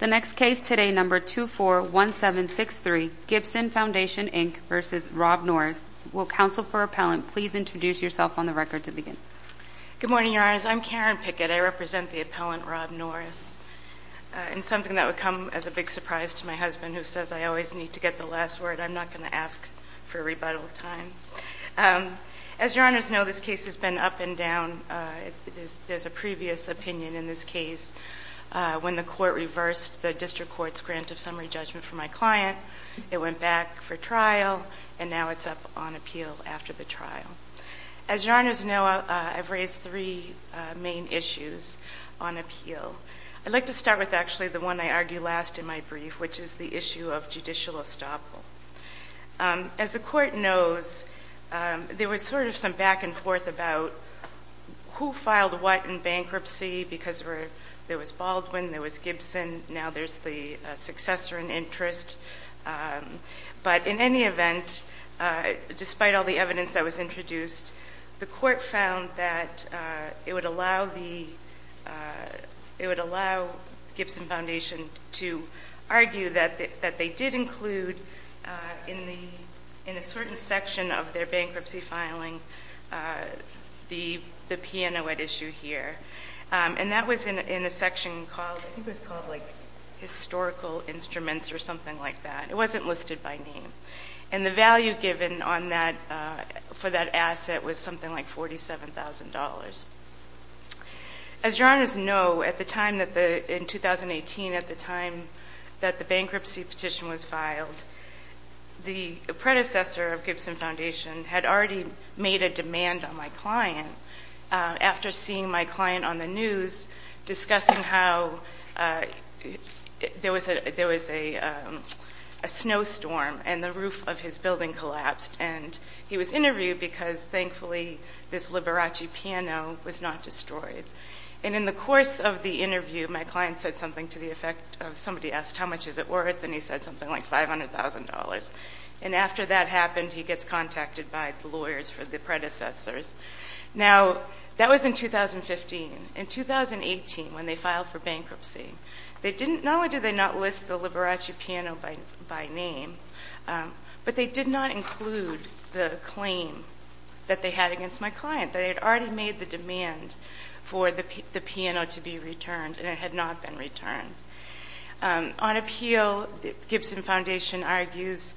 The next case today, number 241763, Gibson Foundation, Inc. v. Rob Norris. Will counsel for appellant please introduce yourself on the record to begin. Good morning, Your Honors. I'm Karen Pickett. I represent the appellant, Rob Norris. And something that would come as a big surprise to my husband, who says I always need to get the last word. I'm not going to ask for a rebuttal time. As Your Honors know, this case has been up and down. There's a previous opinion in this case. When the court reversed the district court's grant of summary judgment for my client, it went back for trial, and now it's up on appeal after the trial. As Your Honors know, I've raised three main issues on appeal. I'd like to start with actually the one I argued last in my brief, which is the issue of judicial estoppel. As the court knows, there was sort of some back and forth about who filed what in bankruptcy, because there was Baldwin, there was Gibson, now there's the successor in interest. But in any event, despite all the evidence that was introduced, the court found that it would allow Gibson Foundation to argue that they did include, in a certain section of their bankruptcy filing, the P&O at issue here. And that was in a section called, I think it was called like historical instruments or something like that. It wasn't listed by name. And the value given for that asset was something like $47,000. As Your Honors know, in 2018, at the time that the bankruptcy petition was filed, the predecessor of Gibson Foundation had already made a demand on my client after seeing my client on the news discussing how there was a snowstorm, and the roof of his building collapsed. And he was interviewed because, thankfully, this Liberace piano was not destroyed. And in the course of the interview, my client said something to the effect of somebody asked, how much is it worth? And he said something like $500,000. And after that happened, he gets contacted by the lawyers for the predecessors. Now, that was in 2015. In 2018, when they filed for bankruptcy, not only did they not list the Liberace piano by name, but they did not include the claim that they had against my client, that they had already made the demand for the piano to be returned, and it had not been returned. On appeal, Gibson Foundation argues,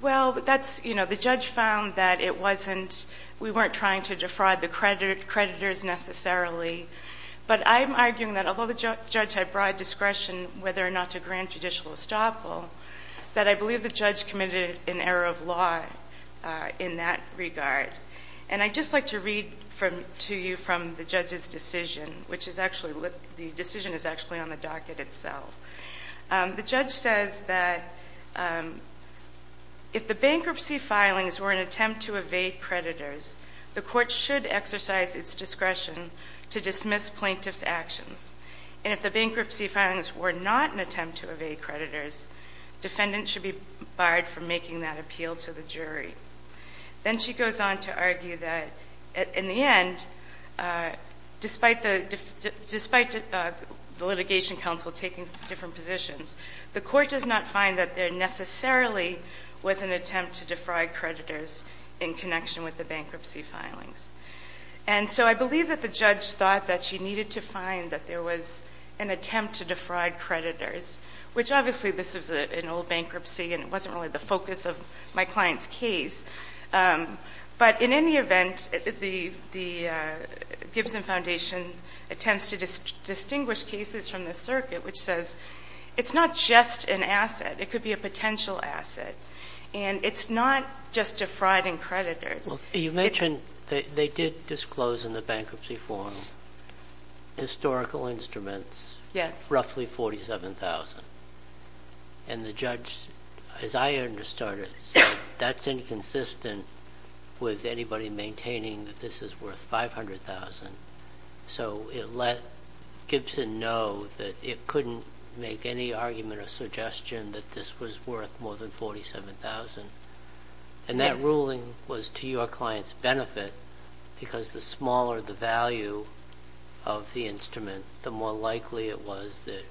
well, that's, you know, the judge found that it wasn't, we weren't trying to defraud the creditors necessarily. But I'm arguing that although the judge had broad discretion whether or not to grant judicial estoppel, that I believe the judge committed an error of law in that regard. And I'd just like to read to you from the judge's decision, which is actually, the decision is actually on the docket itself. The judge says that if the bankruptcy filings were an attempt to evade creditors, the court should exercise its discretion to dismiss plaintiff's actions. And if the bankruptcy filings were not an attempt to evade creditors, defendant should be barred from making that appeal to the jury. Then she goes on to argue that, in the end, despite the litigation council taking different positions, the court does not find that there necessarily was an attempt to defraud creditors in connection with the bankruptcy filings. And so I believe that the judge thought that she needed to find that there was an attempt to defraud creditors, which obviously this was an old bankruptcy, and it wasn't really the focus of my client's case. But in any event, the Gibson Foundation attempts to distinguish cases from the circuit, which says it's not just an asset. It could be a potential asset. And it's not just defrauding creditors. You mentioned they did disclose in the bankruptcy form historical instruments, roughly 47,000. And the judge, as I understood it, said that's inconsistent with anybody maintaining that this is worth 500,000. So it let Gibson know that it couldn't make any argument or suggestion that this was worth more than 47,000. And that ruling was to your client's benefit because the smaller the value of the instrument, the more likely it was that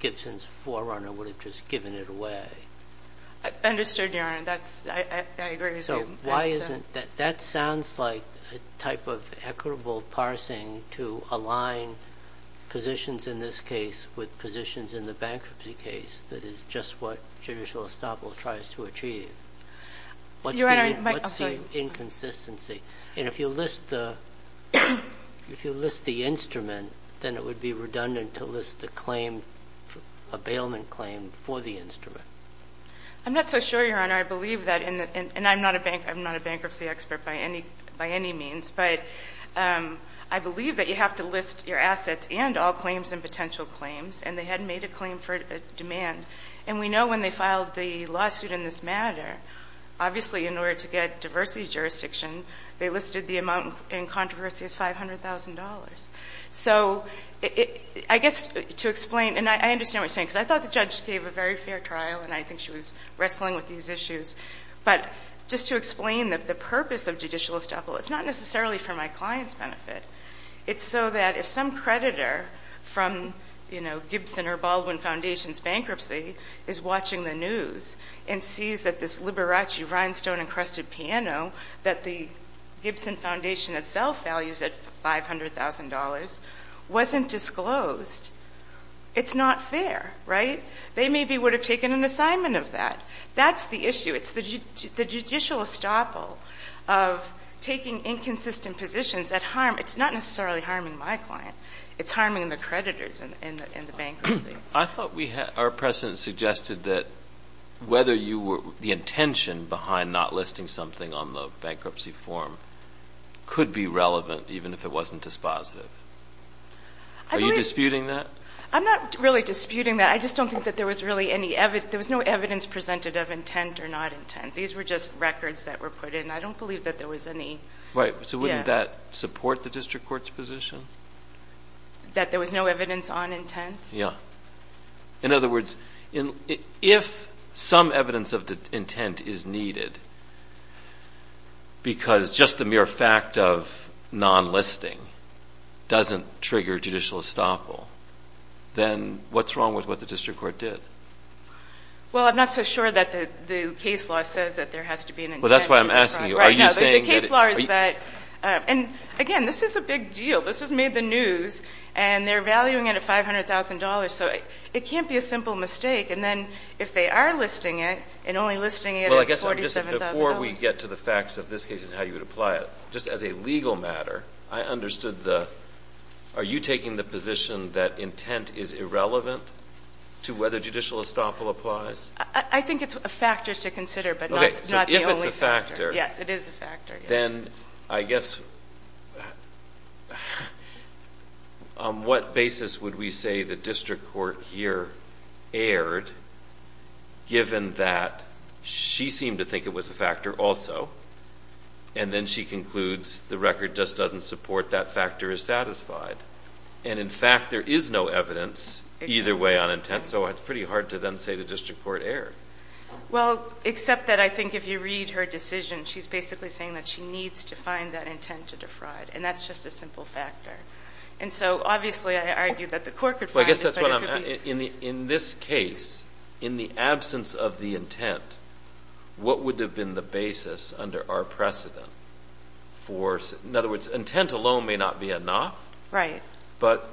Gibson's forerunner would have just given it away. So is this the wrong thing to do? Goldenberg-Ramirez I don't think it's the right thing to do. Understood, Your Honor. That's the right thing to do. Ginsburg So why isn't that? That sounds like a type of equitable parsing to align positions in this case with positions in the bankruptcy case, that is just what Judicial Estoppel tries to achieve. What's the inconsistency? And if you list the instrument, then it would be redundant to list the claim, a bailment claim for the instrument. Goldenberg-Ramirez I'm not so sure, Your Honor. I believe that, and I'm not a bankruptcy expert by any means, but I believe that you have to list your assets and all claims and potential claims. And they had made a claim for demand. And we know when they filed the lawsuit in this matter, obviously in order to get diversity jurisdiction, they listed the amount in controversy as $500,000. So I guess to explain, and I understand what you're saying, because I thought the judge gave a very fair trial, and I think she was wrestling with these issues. But just to explain the purpose of Judicial Estoppel, it's not necessarily for my client's benefit. It's so that if some creditor from, you know, Gibson or Baldwin Foundation's bankruptcy is watching the news and sees that this Liberace rhinestone-encrusted piano that the Gibson Foundation itself values at $500,000 wasn't disclosed, it's not fair, right? They maybe would have taken an assignment of that. That's the issue. It's the Judicial Estoppel of taking inconsistent positions that harm, it's not necessarily harming my client. It's harming the creditors in the bankruptcy. I thought our precedent suggested that whether you were, the intention behind not listing something on the bankruptcy form could be relevant, even if it wasn't dispositive. Are you disputing that? I'm not really disputing that. I just don't think that there was really any, there was no evidence presented of intent or not intent. These were just records that were put in. I don't believe that there was any, yeah. Right. So wouldn't that support the district court's position? That there was no evidence on intent? Yeah. In other words, if some evidence of intent is needed because just the mere fact of non-listing doesn't trigger Judicial Estoppel, then what's wrong with what the district court did? Well, I'm not so sure that the case law says that there has to be an intent. Well, that's why I'm asking you. Are you saying that... And again, this is a big deal. This was made the news, and they're valuing it at $500,000. So it can't be a simple mistake. And then if they are listing it, and only listing it as $47,000... Well, I guess just before we get to the facts of this case and how you would apply it, just as a legal matter, I understood the... Are you taking the position that intent is irrelevant to whether Judicial Estoppel applies? I think it's a factor to consider, but not the only factor. Okay. So if it's a factor... Yes, it is a factor, yes. Then I guess... On what basis would we say the district court here erred, given that she seemed to think it was a factor also, and then she concludes the record just doesn't support that factor is satisfied? And in fact, there is no evidence either way on intent, so it's pretty hard to then say the district court erred. Well, except that I think if you read her decision, she's basically saying that she needs to find that intent to defraud. And that's just a simple factor. And so obviously, I argue that the court could find it, but it could be... Well, I guess that's what I'm... In this case, in the absence of the intent, what would have been the basis under our precedent for... In other words, intent alone may not be enough. Right. But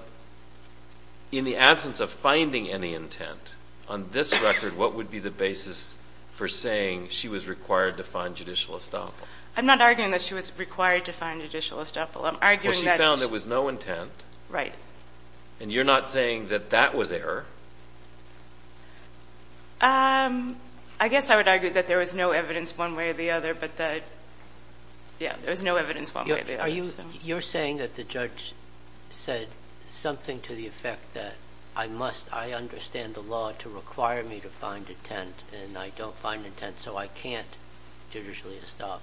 in the absence of finding any intent on this record, what would be the basis for saying she was required to find Judicial Estoppel? I'm not arguing that she was required to find Judicial Estoppel. I'm arguing that... Well, she found there was no intent. Right. And you're not saying that that was error? I guess I would argue that there was no evidence one way or the other, but that yeah, there was no evidence one way or the other. You're saying that the judge said something to the effect that I must... I understand the law to require me to find intent, and I don't find intent, so I can't Judicial Estoppel.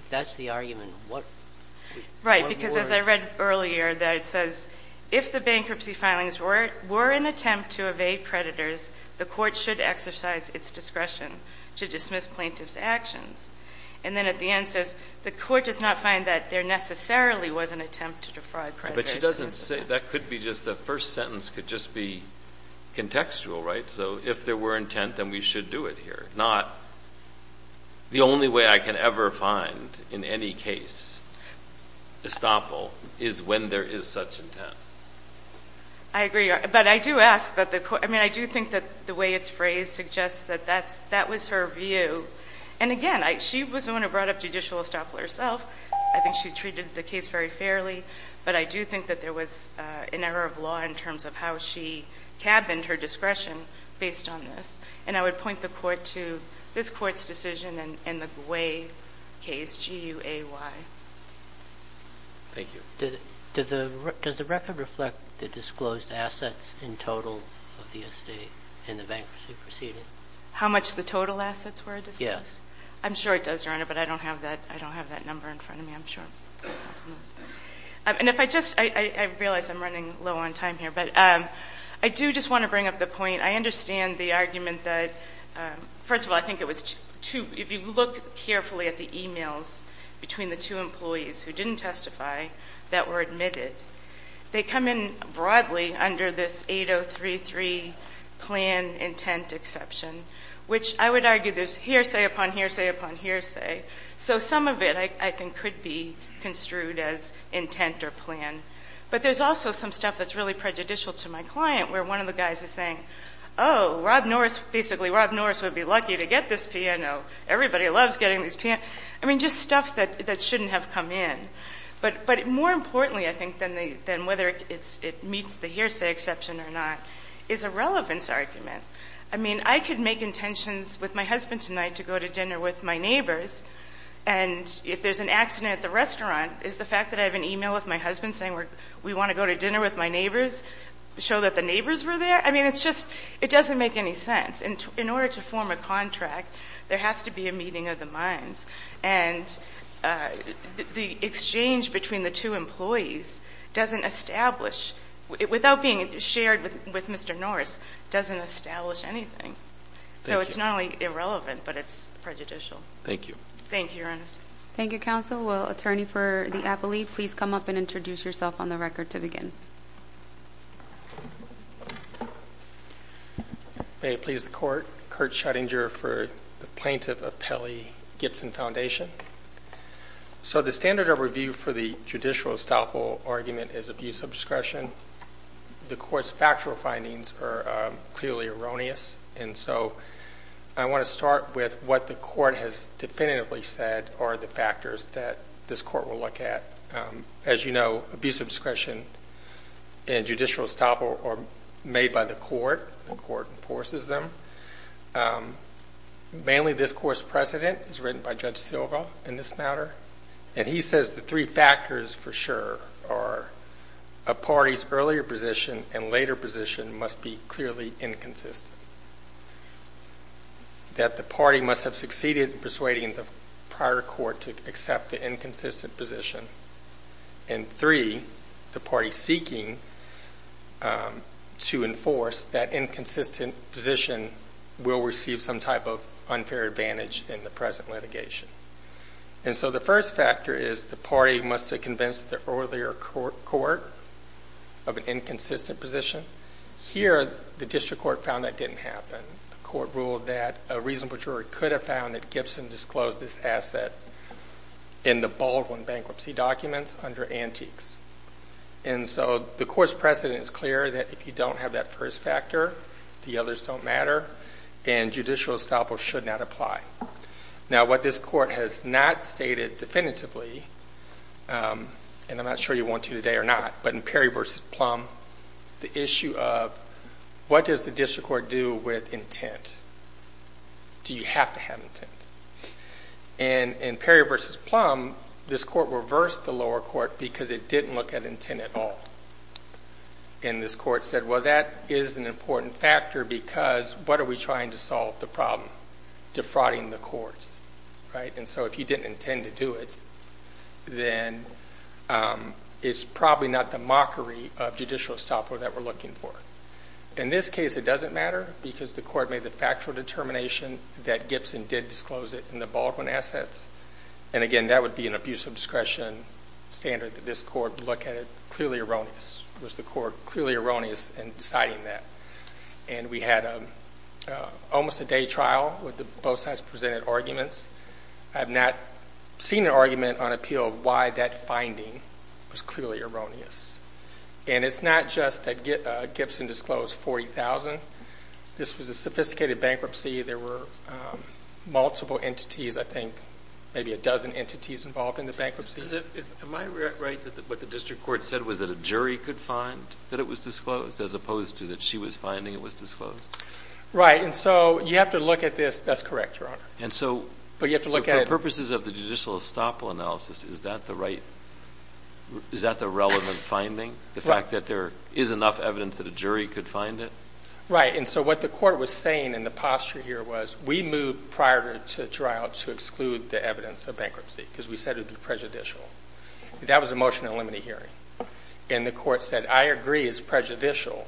If that's the argument, what more... Right. Because as I read earlier that it says, if the bankruptcy filings were an attempt to evade predators, the court should exercise its discretion to dismiss plaintiff's actions. And then at the end it says, the court does not find that there necessarily was an attempt to defraud predators. But she doesn't say... That could be just... The first sentence could just be contextual, right? So if there were intent, then we should do it here. Not... The only way I can ever find in any case Estoppel is when there is such intent. I agree. But I do ask that the court... I mean, I do think that the way it's phrased suggests that that was her view. And again, she was the one who brought up Judicial Estoppel herself. I think she treated the case very fairly. But I do think that there was an error of law in terms of how she cabined her discretion based on this. And I would point the court to this Court's decision in the Gway case, G-U-A-Y. Thank you. Does the record reflect the disclosed assets in total of the estate in the bankruptcy proceeding? How much the total assets were disclosed? Yes. I'm sure it does, Your Honor, but I don't have that number in front of me, I'm sure. And if I just... I realize I'm running low on time here, but I do just want to bring up the point. I understand the argument that first of all, I think it was too... If you look carefully at the e-mails between the two employees who didn't testify that were admitted, they come in broadly under this 8033 plan intent exception, which I would argue there's hearsay upon hearsay upon hearsay. So some of it, I think, could be construed as intent or plan. But there's also some stuff that's really prejudicial to my client, where one of the guys is saying, oh, Rob Norris, basically, Rob Norris would be lucky to get this P&O. Everybody loves getting these P&Os. I mean, just stuff that shouldn't have come in. But more importantly, I think, than whether it meets the hearsay exception or not, is a relevance argument. I mean, I could make intentions with my husband tonight to go to dinner with my neighbors, and if there's an accident at the restaurant, is the fact that I have an e-mail with my husband saying we want to go to dinner with my neighbors to show that the neighbors were there? I mean, it's just... It doesn't make any sense. In order to form a contract, there has to be a meeting of the minds. And the exchange between the two employees doesn't establish, without being shared with Mr. Norris, doesn't establish anything. So it's not only irrelevant, but it's prejudicial. Thank you. Thank you, Your Honor. Thank you, counsel. Will attorney for the appellee please come up and introduce yourself on the record to begin? May it please the court. Kurt Schrodinger for the Plaintiff Appellee Gibson Foundation. So the standard of review for the judicial estoppel argument is abuse of discretion. The court's factual findings are clearly erroneous, and so I want to start with what the court has definitively said are the factors that this court will look at. As you know, abuse of discretion and judicial estoppel are made by the court. The court enforces them. Mainly this court's precedent is written by Judge Silva in this matter, and he says the three factors for sure are a party's earlier position and later position must be clearly inconsistent. That the party must have succeeded in persuading the prior court to accept the inconsistent position, and three, the party seeking to enforce that inconsistent position will receive some type of unfair advantage in the present litigation. And so the first factor is the party must have convinced the earlier court of an inconsistent position. Here, the district court found that didn't happen. The court ruled that a reasonable jury could have found that Gibson disclosed this asset in the Baldwin bankruptcy documents under antiques. And so the court's precedent is clear that if you don't have that first factor, the others don't matter, and judicial estoppel should not apply. Now, what this court has not come to today or not, but in Perry v. Plum, the issue of what does the district court do with intent? Do you have to have intent? And in Perry v. Plum, this court reversed the lower court because it didn't look at intent at all. And this court said, well, that is an important factor because what are we trying to solve the problem? Defrauding the court, right? And so if you didn't intend to do it, then it's probably not the mockery of judicial estoppel that we're looking for. In this case, it doesn't matter because the court made the factual determination that Gibson did disclose it in the Baldwin assets. And again, that would be an abuse of discretion standard that this court would look at it clearly erroneous. Was the court clearly erroneous in deciding that? And we had almost a day trial with both sides presented arguments. I have not seen an argument on appeal of why that finding was clearly erroneous. And it's not just that Gibson disclosed $40,000. This was a sophisticated bankruptcy. There were multiple entities, I think maybe a dozen entities involved in the bankruptcy. Am I right that what the district court said was that a jury could find that it was disclosed as opposed to that she was finding it was disclosed? Right. And so you have to look at this. That's correct, Your Honor. But you have to look at it. For purposes of the judicial estoppel analysis, is that the right, is that the relevant finding? The fact that there is enough evidence that a jury could find it? Right. And so what the court was saying in the posture here was we moved prior to trial to exclude the evidence of bankruptcy because we said it would be prejudicial. That was a motion to eliminate hearing. And the court said I agree it's prejudicial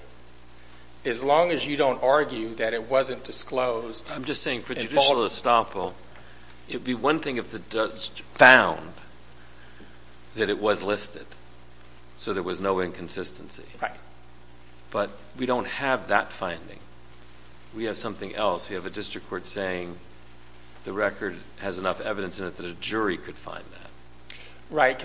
as long as you don't argue that it wasn't disclosed. I'm just saying for judicial estoppel, it would be one thing if the judge found that it was listed so there was no inconsistency. Right. But we don't have that finding. We have something else. We have a district court saying the record has enough evidence in it that a jury could find that. Right.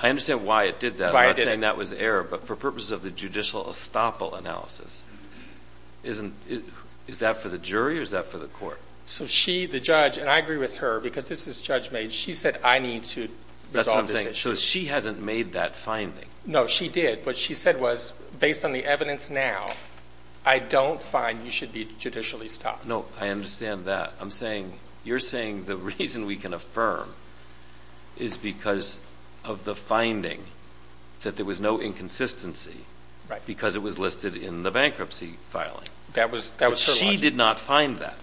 I understand why it did that. I'm not saying that was error. But for purposes of the judicial estoppel analysis, is that for the jury or is that for the court? So she, the judge, and I agree with her because this is judge made, she said I need to resolve this issue. That's what I'm saying. So she hasn't made that finding. No, she did. What she said was based on the I understand that. I'm saying, you're saying the reason we can affirm is because of the finding that there was no inconsistency. Right. Because it was listed in the bankruptcy filing. That was her logic. But she did not find that.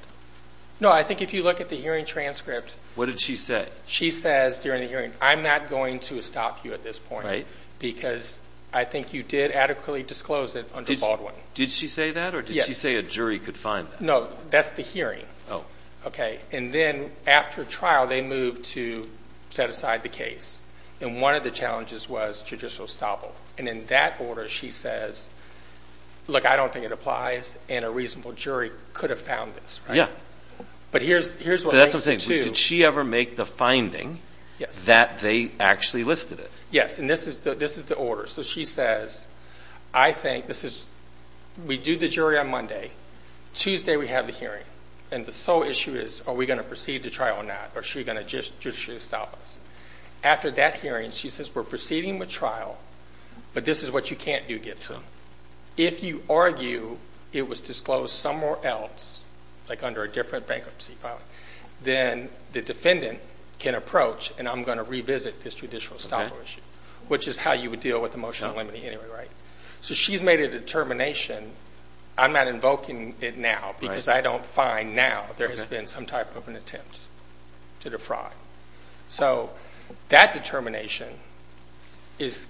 No, I think if you look at the hearing transcript. What did she say? She says during the hearing, I'm not going to estop you at this point. Right. Because I think you did adequately disclose it under Baldwin. Did she say that or did she say a jury could find that? No, that's the hearing. Oh. Okay. And then after trial, they moved to set aside the case. And one of the challenges was judicial estoppel. And in that order, she says, look, I don't think it applies and a reasonable jury could have found this. Right. Yeah. But here's what makes it two. But that's what I'm saying. Did she ever make the finding that they I think this is we do the jury on Monday. Tuesday we have the hearing. And the sole issue is, are we going to proceed to trial or not? Or is she going to just stop us? After that hearing, she says, we're proceeding with trial, but this is what you can't do, Gibson. If you argue it was disclosed somewhere else, like under a different bankruptcy filing, then the defendant can approach and I'm going to revisit this judicial estoppel issue, which is how you would deal with the motion limiting anyway. Right. So she's made a determination. I'm not invoking it now because I don't find now there has been some type of an attempt to defraud. So that determination is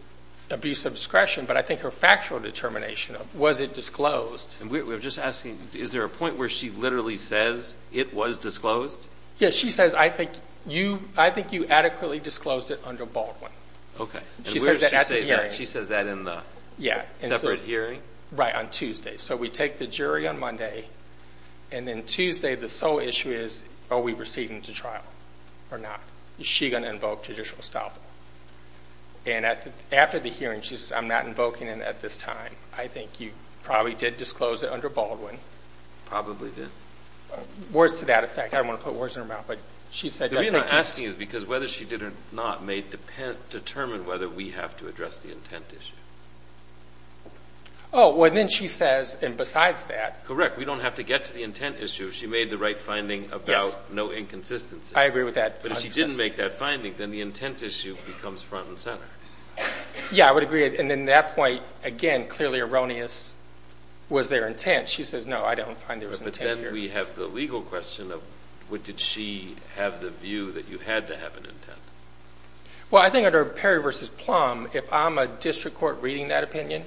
abuse of discretion. But I think her factual determination of was it disclosed. And we were just asking, is there a point where she literally says it was disclosed? Yes. She says, I think you adequately disclosed it under Baldwin. Okay. She says that in the separate hearing? Right. On Tuesday. So we take the jury on Monday. And then Tuesday, the sole issue is, are we proceeding to trial or not? Is she going to invoke judicial estoppel? And after the hearing, she says, I'm not invoking it at this time. I think you probably did disclose it under Baldwin. Probably did. Words to that effect. I don't want to put words in her mouth. But she said that. The reason I'm asking is because whether she did or not may determine whether we have to address the intent issue. Oh. Well, then she says, and besides that. Correct. We don't have to get to the intent issue. She made the right finding about no inconsistency. I agree with that. But if she didn't make that decision, the intent issue becomes front and center. Yeah, I would agree. And in that point, again, clearly erroneous was their intent. She says, no, I don't find there was intent here. But then we have the legal question of, did she have the view that you had to have an intent? Well, I think under Perry v. Plum, if I'm a district court reading that opinion,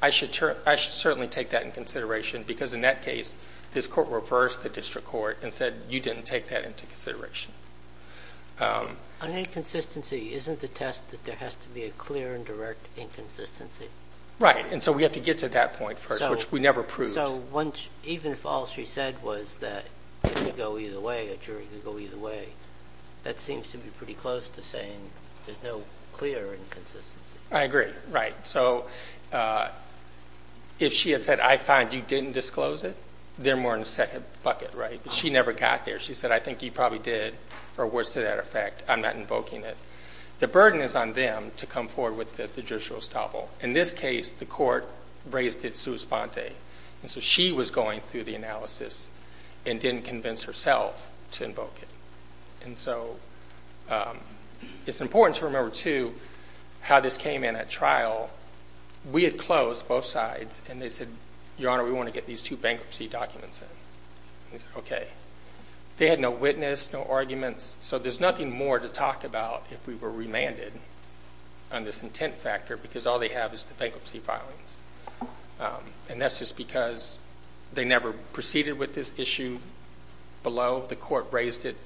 I should certainly take that into consideration. Because in that case, this court reversed the district court and said, you didn't take that into consideration. On inconsistency, isn't the test that there has to be a clear and direct inconsistency? Right. And so we have to get to that point first, which we never proved. So even if all she said was that it could go either way, a jury could go either way, that seems to be pretty close to saying there's no clear inconsistency. I agree. Right. So if she had said, I find you didn't disclose it, then we're in a second bucket, right? But she never got there. She said, I think you probably did, or was to that effect. I'm not invoking it. The burden is on them to come forward with the judicial estoppel. In this case, the court raised it sua sponte. And so she was going through the analysis and didn't convince herself to invoke it. And so it's important to remember, too, how this came in at trial. We had closed both sides, and they said, Your Honor, we want to get these two bankruptcy documents in. Okay. They had no witness, no arguments. So there's nothing more to talk about if we were remanded on this intent factor, because all they have is the bankruptcy filings. And that's just because they never proceeded with this issue below. The court raised it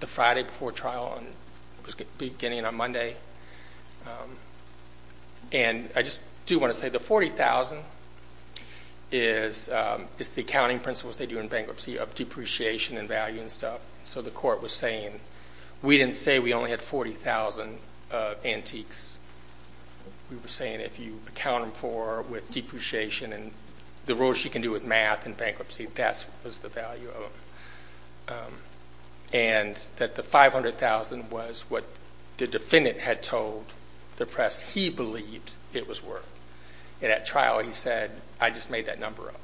the Friday before trial, and it was beginning on Monday. And I just do want to say the $40,000 is the accounting principles they do in bankruptcy of depreciation and value and stuff. So the court was saying we didn't say we only had $40,000 of antiques. We were saying if you account them for with depreciation and the rules you can do with math in bankruptcy, that's what was the value of them. And that the $500,000 was what the defendant had told the press he believed it was worth. And at trial, he said, I just made that number up.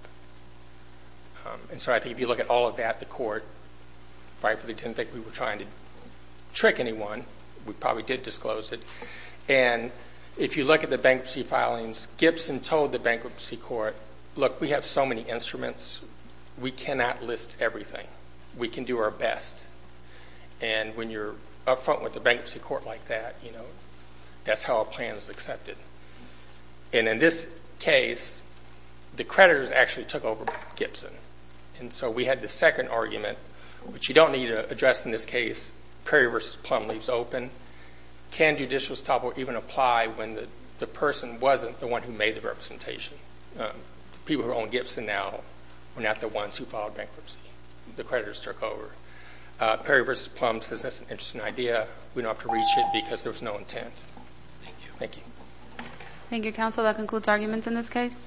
And so I think if you look at all of that, the court probably didn't think we were trying to trick anyone. We probably did disclose it. And if you look at the bankruptcy filings, Gibson told the bankruptcy court, look, we have so many instruments, we cannot list everything. We can do our best. And when you're up front with the bankruptcy court like that, that's how a plan is accepted. And in this case, the creditors actually took over Gibson. And so we had the second argument, which you don't need to address in this case. Perry v. Plum leaves open. Can judicial stop or even apply when the person wasn't the one who made the representation? People who own Gibson now were not the ones who filed bankruptcy. The creditors took over. Perry v. Plum says that's an interesting idea. We don't have to read shit because there was no intent. Thank you. Thank you, counsel. That concludes arguments in this case.